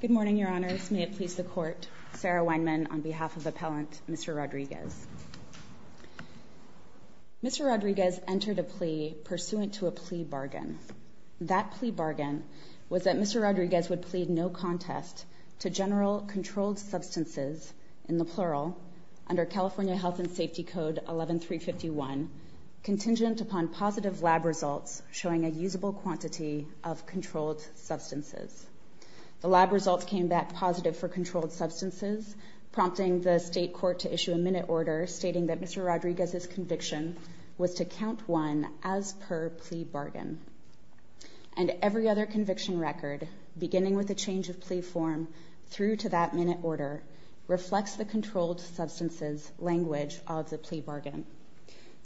Good morning, Your Honors. May it please the Court, Sarah Weinman, on behalf of Appellant Mr. Rodriguez. Mr. Rodriguez entered a plea pursuant to a plea bargain. That plea bargain was that Mr. Rodriguez would plead no contest to general controlled substances, in the plural, under California Health and Safety Code 11351, contingent upon positive lab results showing a usable quantity of controlled substances. The lab results came back positive for controlled substances, prompting the State Court to issue a minute order stating that Mr. Rodriguez's conviction was to count one as per plea bargain. And every other conviction record, beginning with the change of plea form through to that minute order, reflects the controlled substances language of the plea bargain.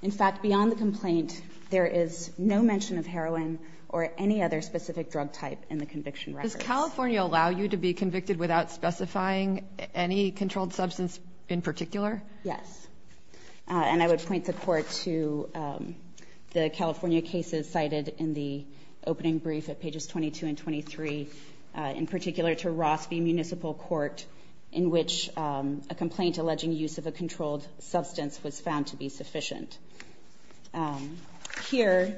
In fact, beyond the complaint, there is no mention of heroin or any other specific drug type in the conviction record. Does California allow you to be convicted without specifying any controlled substance in particular? Yes. And I would point the Court to the California cases cited in the opening brief at pages 22 and 23, in particular to Ross v. Municipal Court, in which a complaint alleging use of a controlled substance was found to be sufficient. Here,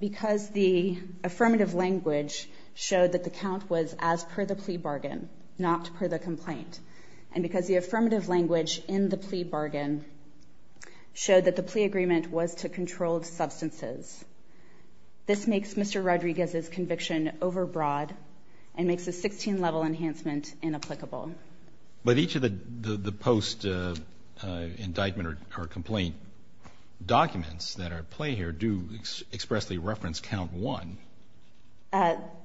because the affirmative language showed that the count was as per the plea bargain, not per the complaint, and because the affirmative language in the plea bargain showed that the plea agreement was to controlled substances, this makes Mr. Rodriguez's conviction overbroad and makes a 16-level enhancement inapplicable. But each of the post-indictment or complaint documents that are at play here do expressly reference count one.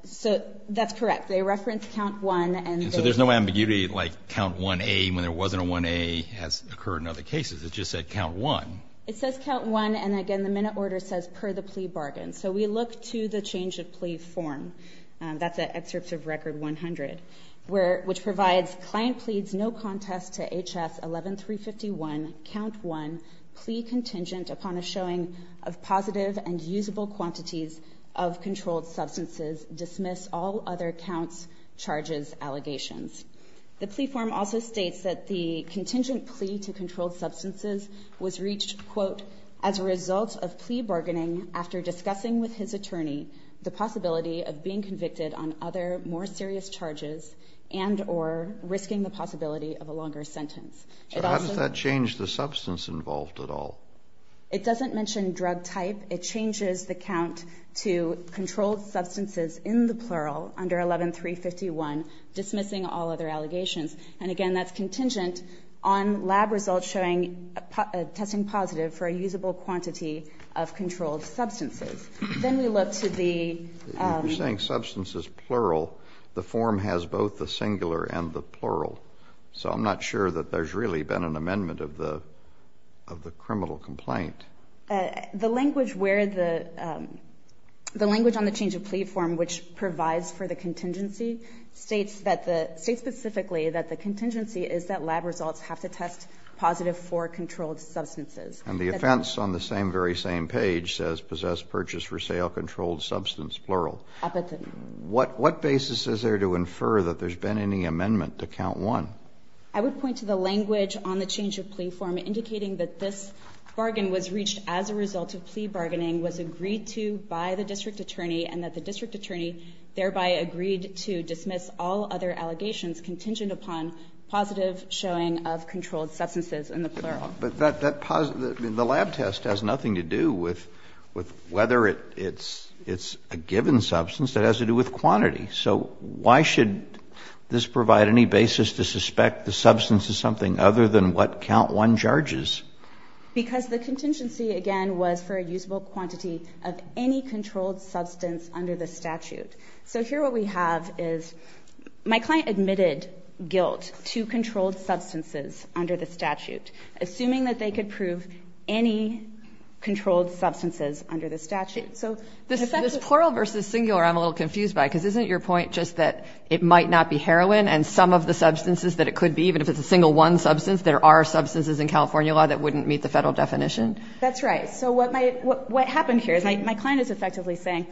So that's correct. They reference count one, and they… And so there's no ambiguity, like count 1A, when there wasn't a 1A, has occurred in other cases. It just said count one. It says count one, and again, the minute order says per the plea bargain. So we look to the change of plea form. That's at Excerpts of Record 100, which provides, Client pleads no contest to H.S. 11351, count one, plea contingent upon a showing of positive and usable quantities of controlled substances. Dismiss all other counts, charges, allegations. The plea form also states that the contingent plea to controlled substances was reached, quote, as a result of plea bargaining after discussing with his attorney the possibility of being convicted on other more serious charges and or risking the possibility of a longer sentence. So how does that change the substance involved at all? It doesn't mention drug type. It changes the count to controlled substances in the plural under 11351, dismissing all other allegations. And again, that's contingent on lab results showing a testing positive for a usable quantity of controlled substances. Then we look to the… You're saying substance is plural. The form has both the singular and the plural. So I'm not sure that there's really been an amendment of the criminal complaint. The language where the – the language on the change of plea form which provides for the contingency states that the – states specifically that the contingency is that lab results have to test positive for controlled substances. And the offense on the same, very same page says possessed, purchased, for sale, controlled substance, plural. I bet they don't. What basis is there to infer that there's been any amendment to count one? I would point to the language on the change of plea form indicating that this bargain was reached as a result of plea bargaining, was agreed to by the district attorney, and that the district attorney thereby agreed to dismiss all other allegations contingent upon positive showing of controlled substances in the plural. But that – that positive – the lab test has nothing to do with whether it's a given substance. It has to do with quantity. So why should this provide any basis to suspect the substance is something other than what count one charges? Because the contingency, again, was for a usable quantity of any controlled substance under the statute. So here what we have is my client admitted guilt to controlled substances under the statute, assuming that they could prove any controlled substances under the statute. So the fact that – This plural versus singular I'm a little confused by, because isn't your point just that it might not be heroin and some of the substances that it could be, even if it's a single one substance? There are substances in California law that wouldn't meet the Federal definition? That's right. So what my – what happened here is my client is effectively saying,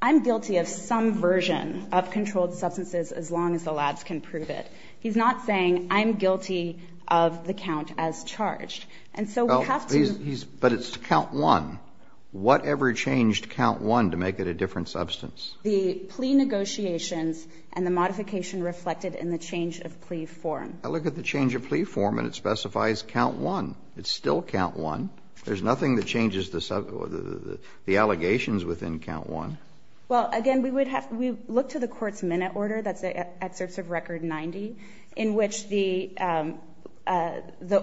I'm guilty of some version of controlled substances as long as the labs can prove it. He's not saying, I'm guilty of the count as charged. And so we have to – Well, he's – but it's count one. Whatever changed count one to make it a different substance? The plea negotiations and the modification reflected in the change of plea form. I look at the change of plea form and it specifies count one. It's still count one. There's nothing that changes the allegations within count one. Well, again, we would have to look to the court's minute order, that's the excerpts of Record 90, in which the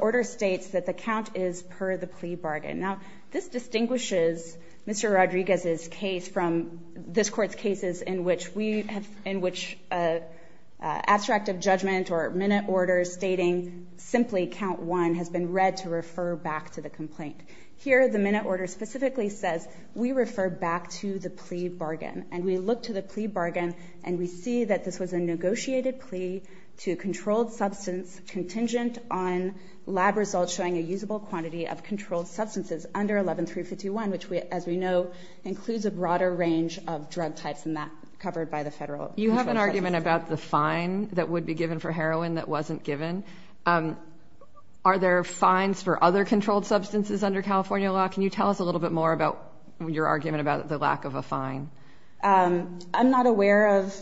order states that the count is per the plea bargain. Now, this distinguishes Mr. Rodriguez's case from this Court's cases in which abstract of judgment or minute order stating simply count one has been read to refer back to the complaint. Here, the minute order specifically says we refer back to the plea bargain. And we look to the plea bargain and we see that this was a negotiated plea to a controlled substance contingent on lab results showing a usable quantity of controlled substances under 11351, which we – as we know, includes a broader range of drug types than that covered by the Federal – You have an argument about the fine that would be given for heroin that wasn't given. Are there fines for other controlled substances under California law? Can you tell us a little bit more about your argument about the lack of a fine? I'm not aware of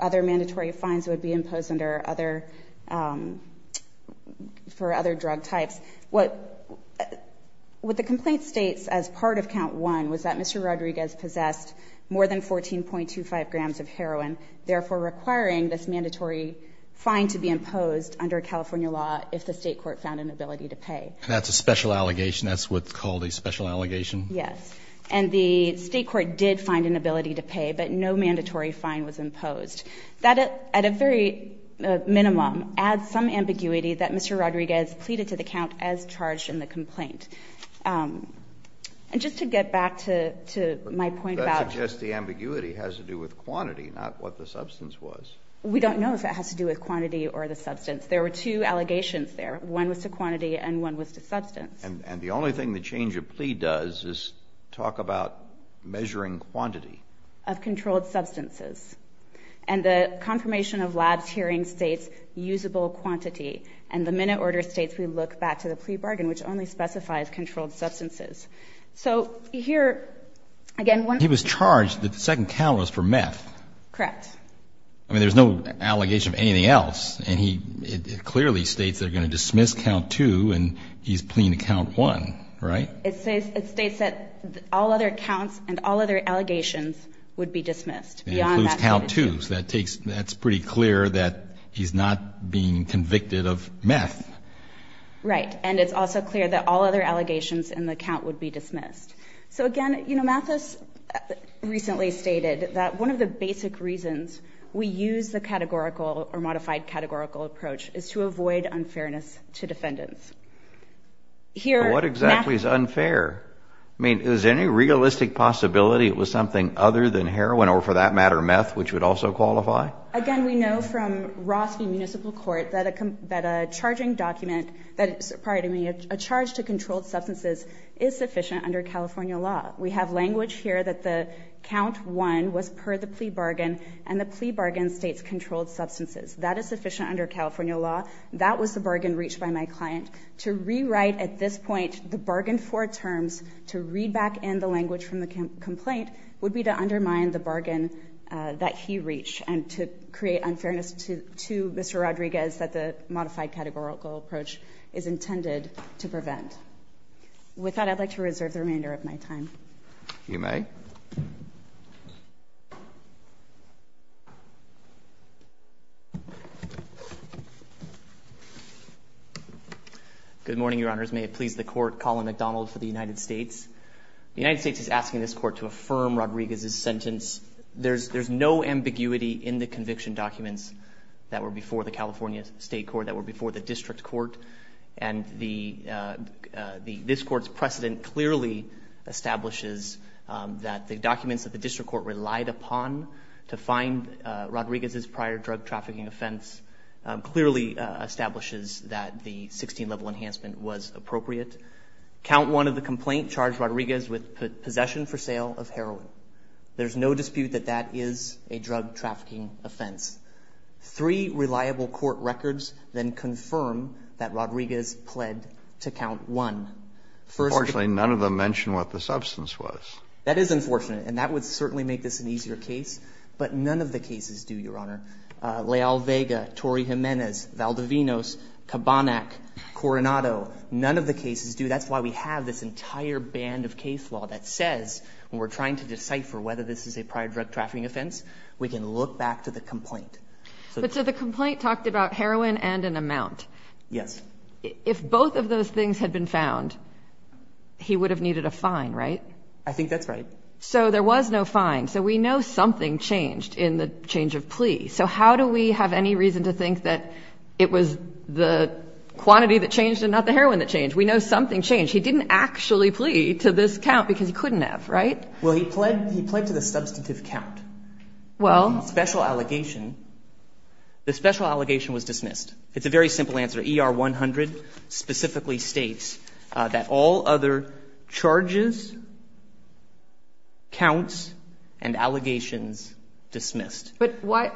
other mandatory fines that would be imposed under other – for other drug types. What the complaint states as part of count one was that Mr. Rodriguez possessed more than 14.25 grams of heroin, therefore requiring this mandatory fine to be imposed under California law if the State court found an ability to pay. And that's a special allegation. That's what's called a special allegation? Yes. And the State court did find an ability to pay, but no mandatory fine was imposed. That, at a very minimum, adds some ambiguity that Mr. Rodriguez pleaded to the count as charged in the complaint. And just to get back to my point about – The ambiguity has to do with quantity, not what the substance was. We don't know if it has to do with quantity or the substance. There were two allegations there. One was to quantity and one was to substance. And the only thing the change of plea does is talk about measuring quantity. Of controlled substances. And the confirmation of labs hearing states usable quantity. And the minute order states we look back to the plea bargain, which only specifies controlled substances. He was charged that the second count was for meth. Correct. I mean, there's no allegation of anything else. And it clearly states they're going to dismiss count two and he's pleading to count one, right? It states that all other counts and all other allegations would be dismissed. It includes count two, so that's pretty clear that he's not being convicted of meth. Right. So, again, Mathis recently stated that one of the basic reasons we use the categorical or modified categorical approach is to avoid unfairness to defendants. What exactly is unfair? I mean, is there any realistic possibility it was something other than heroin or, for that matter, meth, which would also qualify? Again, we know from Rossby Municipal Court that a charging document – pardon me – a charge to controlled substances is sufficient under California law. We have language here that the count one was per the plea bargain and the plea bargain states controlled substances. That is sufficient under California law. That was the bargain reached by my client. To rewrite at this point the bargain for terms to read back in the language from the complaint would be to undermine the bargain that he reached and to create unfairness to Mr. Rodriguez that the modified categorical approach is intended to prevent. With that, I'd like to reserve the remainder of my time. You may. Good morning, Your Honors. May it please the Court, Colin McDonald for the United States. The United States is asking this Court to affirm Rodriguez's sentence. There's no ambiguity in the conviction documents that were before the California State Court, that were before the District Court, and this Court's precedent clearly establishes that the documents that the District Court relied upon to find Rodriguez's prior drug trafficking offense clearly establishes that the 16-level enhancement was appropriate. Count one of the complaint charged Rodriguez with possession for sale of heroin. There's no dispute that that is a drug trafficking offense. Three reliable court records then confirm that Rodriguez pled to count one. Unfortunately, none of them mention what the substance was. That is unfortunate, and that would certainly make this an easier case, but none of the cases do, Your Honor. Leal Vega, Torrey Jimenez, Valdovinos, Kabanek, Coronado, none of the cases do. That's why we have this entire band of case law that says, when we're trying to decipher whether this is a prior drug trafficking offense, we can look back to the complaint. But so the complaint talked about heroin and an amount. Yes. If both of those things had been found, he would have needed a fine, right? I think that's right. So there was no fine. So we know something changed in the change of plea. So how do we have any reason to think that it was the quantity that changed and not the heroin that changed? We know something changed. He didn't actually plea to this count because he couldn't have, right? Well, he pled to the substantive count. Well. The special allegation was dismissed. It's a very simple answer. ER-100 specifically states that all other charges, counts, and allegations dismissed. But why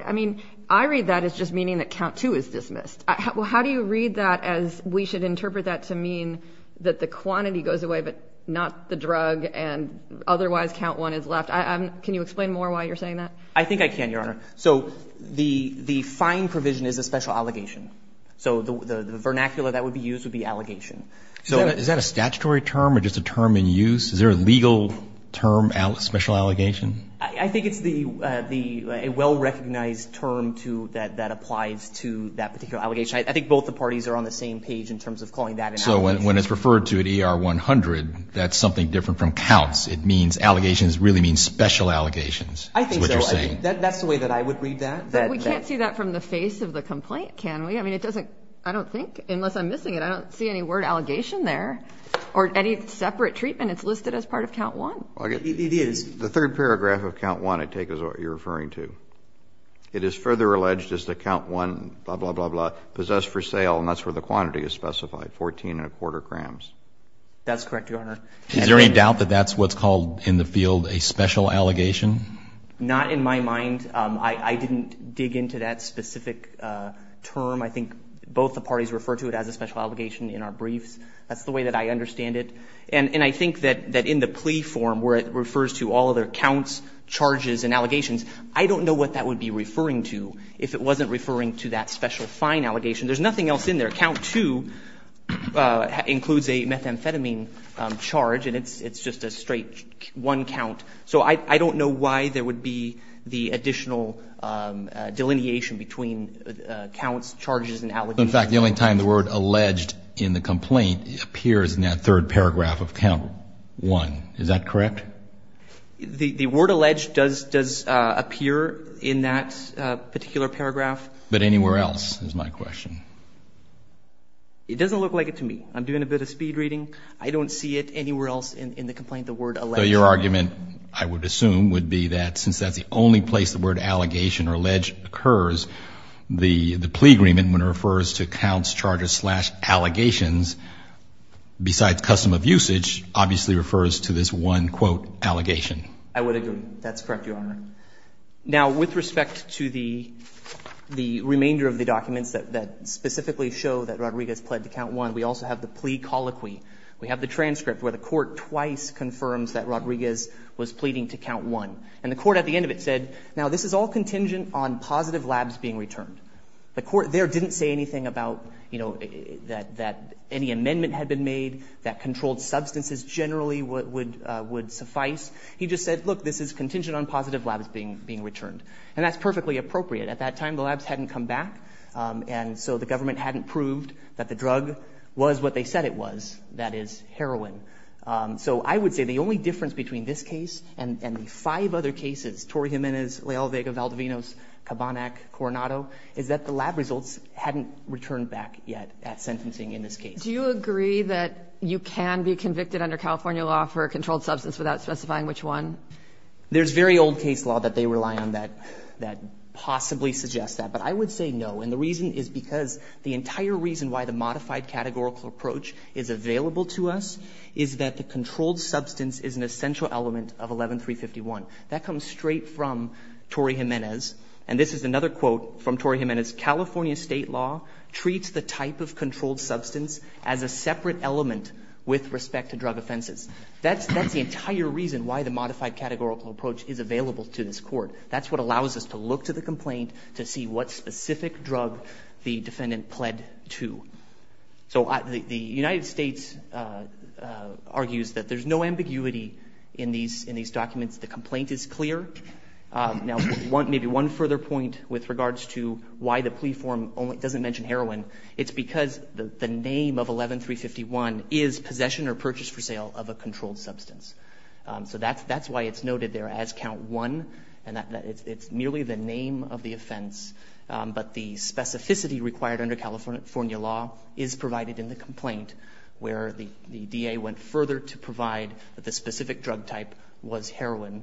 – I mean, I read that as just meaning that count two is dismissed. Well, how do you read that as we should interpret that to mean that the quantity goes away but not the drug and otherwise count one is left? Can you explain more why you're saying that? I think I can, Your Honor. So the fine provision is a special allegation. So the vernacular that would be used would be allegation. So is that a statutory term or just a term in use? Is there a legal term, special allegation? I think it's a well-recognized term that applies to that particular allegation. I think both the parties are on the same page in terms of calling that an allegation. So when it's referred to at ER-100, that's something different from counts. It means allegations really mean special allegations. I think so. That's the way that I would read that. We can't see that from the face of the complaint, can we? I mean, it doesn't – I don't think, unless I'm missing it, I don't see any word allegation there or any separate treatment. It's listed as part of count one. It is. The third paragraph of count one, I take as what you're referring to. It is further alleged as to count one, blah, blah, blah, blah, possessed for sale, and that's where the quantity is specified, 14 and a quarter grams. That's correct, Your Honor. Is there any doubt that that's what's called in the field a special allegation? Not in my mind. I didn't dig into that specific term. I think both the parties refer to it as a special allegation in our briefs. That's the way that I understand it. And I think that in the plea form, where it refers to all other counts, charges, and allegations, I don't know what that would be referring to if it wasn't referring to that special fine allegation. There's nothing else in there. Count two includes a methamphetamine charge, and it's just a straight one count. So I don't know why there would be the additional delineation between counts, charges, and allegations. In fact, the only time the word alleged in the complaint appears in that third paragraph of count one, is that correct? The word alleged does appear in that particular paragraph. But anywhere else is my question. It doesn't look like it to me. I'm doing a bit of speed reading. I don't see it anywhere else in the complaint, the word alleged. So your argument, I would assume, would be that since that's the only place the word allegation or alleged occurs, the plea agreement, when it refers to counts, counts, and other things, that the term of usage obviously refers to this one quote allegation. I would agree. That's correct, Your Honor. Now, with respect to the remainder of the documents that specifically show that Rodriguez pled to count one, we also have the plea colloquy. We have the transcript where the court twice confirms that Rodriguez was pleading to count one. And the court at the end of it said, now this is all contingent on positive labs being returned. The court there didn't say anything about, you know, that any amendment had been made, that controlled substances generally would suffice. He just said, look, this is contingent on positive labs being returned. And that's perfectly appropriate. At that time, the labs hadn't come back. And so the government hadn't proved that the drug was what they said it was, that is heroin. So I would say the only difference between this case and the five other cases, Torre Jimenez, Leal Vega, Valdovinos, Cabanac, Coronado, is that the lab results hadn't returned back yet at sentencing in this case. Do you agree that you can be convicted under California law for a controlled substance without specifying which one? There's very old case law that they rely on that possibly suggests that. But I would say no. And the reason is because the entire reason why the modified categorical approach is available to us is that the controlled substance is an essential element of 11351. That comes straight from Torre Jimenez. And this is another quote from Torre Jimenez. California state law treats the type of controlled substance as a separate element with respect to drug offenses. That's the entire reason why the modified categorical approach is available to this court. That's what allows us to look to the complaint to see what specific drug the defendant pled to. So the United States argues that there's no ambiguity in these documents. The complaint is clear. Now, maybe one further point with regards to why the plea form doesn't mention heroin. It's because the name of 11351 is possession or purchase for sale of a controlled substance. So that's why it's noted there as count one. And it's merely the name of the offense. But the specificity required under California law is provided in the complaint where the DA went further to provide that the specific drug type was heroin.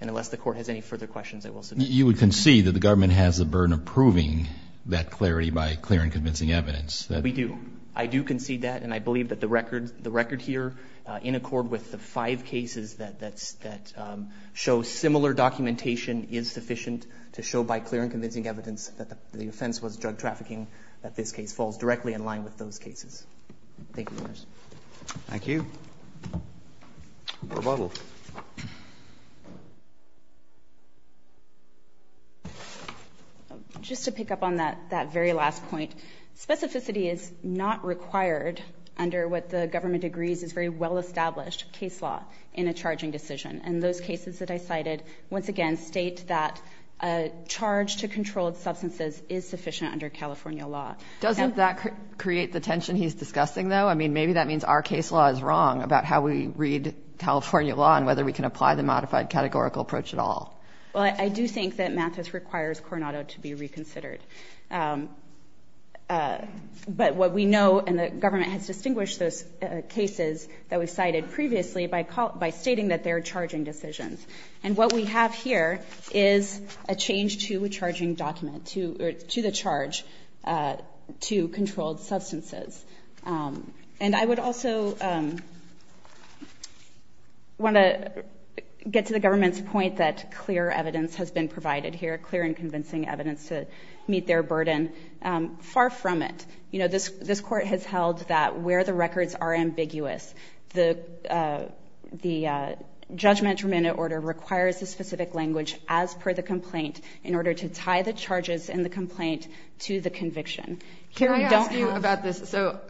And unless the court has any further questions, I will submit. You would concede that the government has the burden of proving that clarity by clear and convincing evidence. We do. I do concede that. And I believe that the record here, in accord with the five cases that show similar documentation, is sufficient to show by clear and convincing evidence that the offense was drug trafficking, that this case falls directly in line with those cases. Thank you, Your Honors. Thank you. Rebuttal. Just to pick up on that very last point. Specificity is not required under what the government agrees is very well-established case law in a charging decision. And those cases that I cited, once again, state that a charge to controlled substances is sufficient under California law. Doesn't that create the tension he's discussing, though? Maybe that means our case law is wrong about how we read California law and whether we can apply the modified categorical approach at all. Well, I do think that Mathis requires Coronado to be reconsidered. But what we know, and the government has distinguished those cases that we cited previously by stating that they're charging decisions. And what we have here is a change to a charging document, to the charge to controlled substances. And I would also want to get to the government's point that clear evidence has been provided here, clear and convincing evidence to meet their burden. Far from it. You know, this Court has held that where the records are ambiguous, the judgment remanded order requires a specific language as per the complaint in order to tie the charges in the complaint to the conviction. Can I ask you about this? So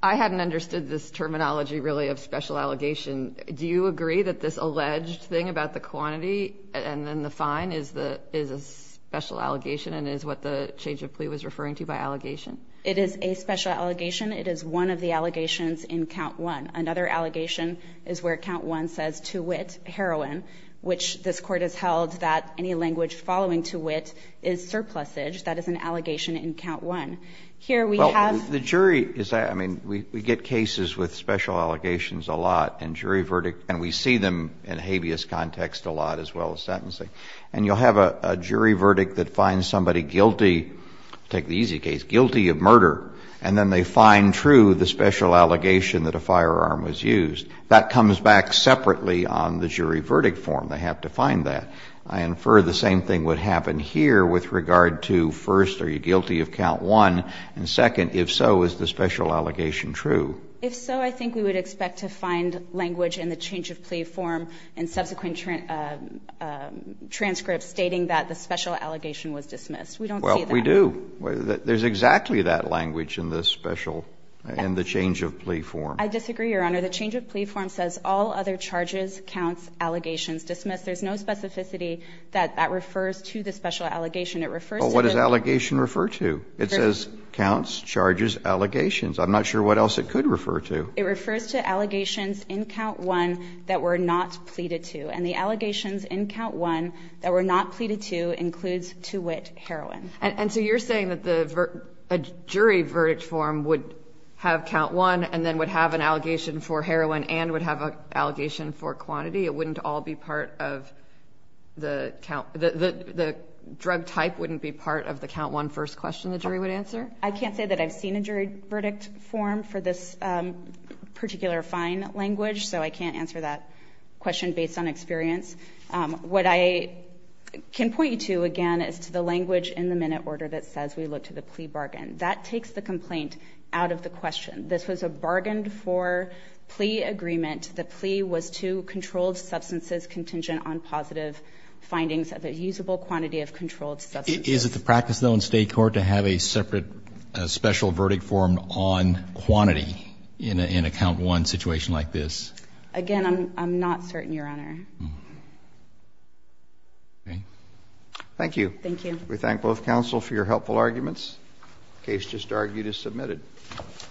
I hadn't understood this terminology, really, of special allegation. Do you agree that this alleged thing about the quantity and then the fine is a special allegation and is what the change of plea was referring to by allegation? It is a special allegation. It is one of the allegations in Count 1. Another allegation is where Count 1 says, to wit, heroin, which this Court has held that any language following to wit is surplusage. That is an allegation in Count 1. Well, the jury is, I mean, we get cases with special allegations a lot and jury verdict, and we see them in habeas context a lot as well as sentencing. And you'll have a jury verdict that finds somebody guilty, take the easy case, guilty of murder, and then they find true the special allegation that a firearm was used. That comes back separately on the jury verdict form. They have to find that. I infer the same thing would happen here with regard to, first, are you guilty of Count 1, and second, if so, is the special allegation true? If so, I think we would expect to find language in the change of plea form and subsequent transcripts stating that the special allegation was dismissed. We don't see that. Well, we do. There's exactly that language in the special, in the change of plea form. I disagree, Your Honor. The change of plea form says all other charges, counts, allegations dismissed. There's no specificity that that refers to the special allegation. It refers to the What does allegation refer to? It says counts, charges, allegations. I'm not sure what else it could refer to. It refers to allegations in Count 1 that were not pleaded to. And the allegations in Count 1 that were not pleaded to includes to wit heroin. And so you're saying that the jury verdict form would have Count 1 and then would have an allegation for heroin and would have an allegation for quantity? It wouldn't all be part of the count? The drug type wouldn't be part of the Count 1 first question the jury would answer? I can't say that I've seen a jury verdict form for this particular fine language, so I can't answer that question based on experience. What I can point you to, again, is to the language in the minute order that says we look to the plea bargain. That takes the complaint out of the question. This was a bargained for plea agreement. The plea was to controlled substances contingent on positive findings of a usable quantity of controlled substances. Is it the practice, though, in State court to have a separate special verdict form on quantity in a Count 1 situation like this? Again, I'm not certain, Your Honor. Thank you. Thank you. The case just argued is submitted.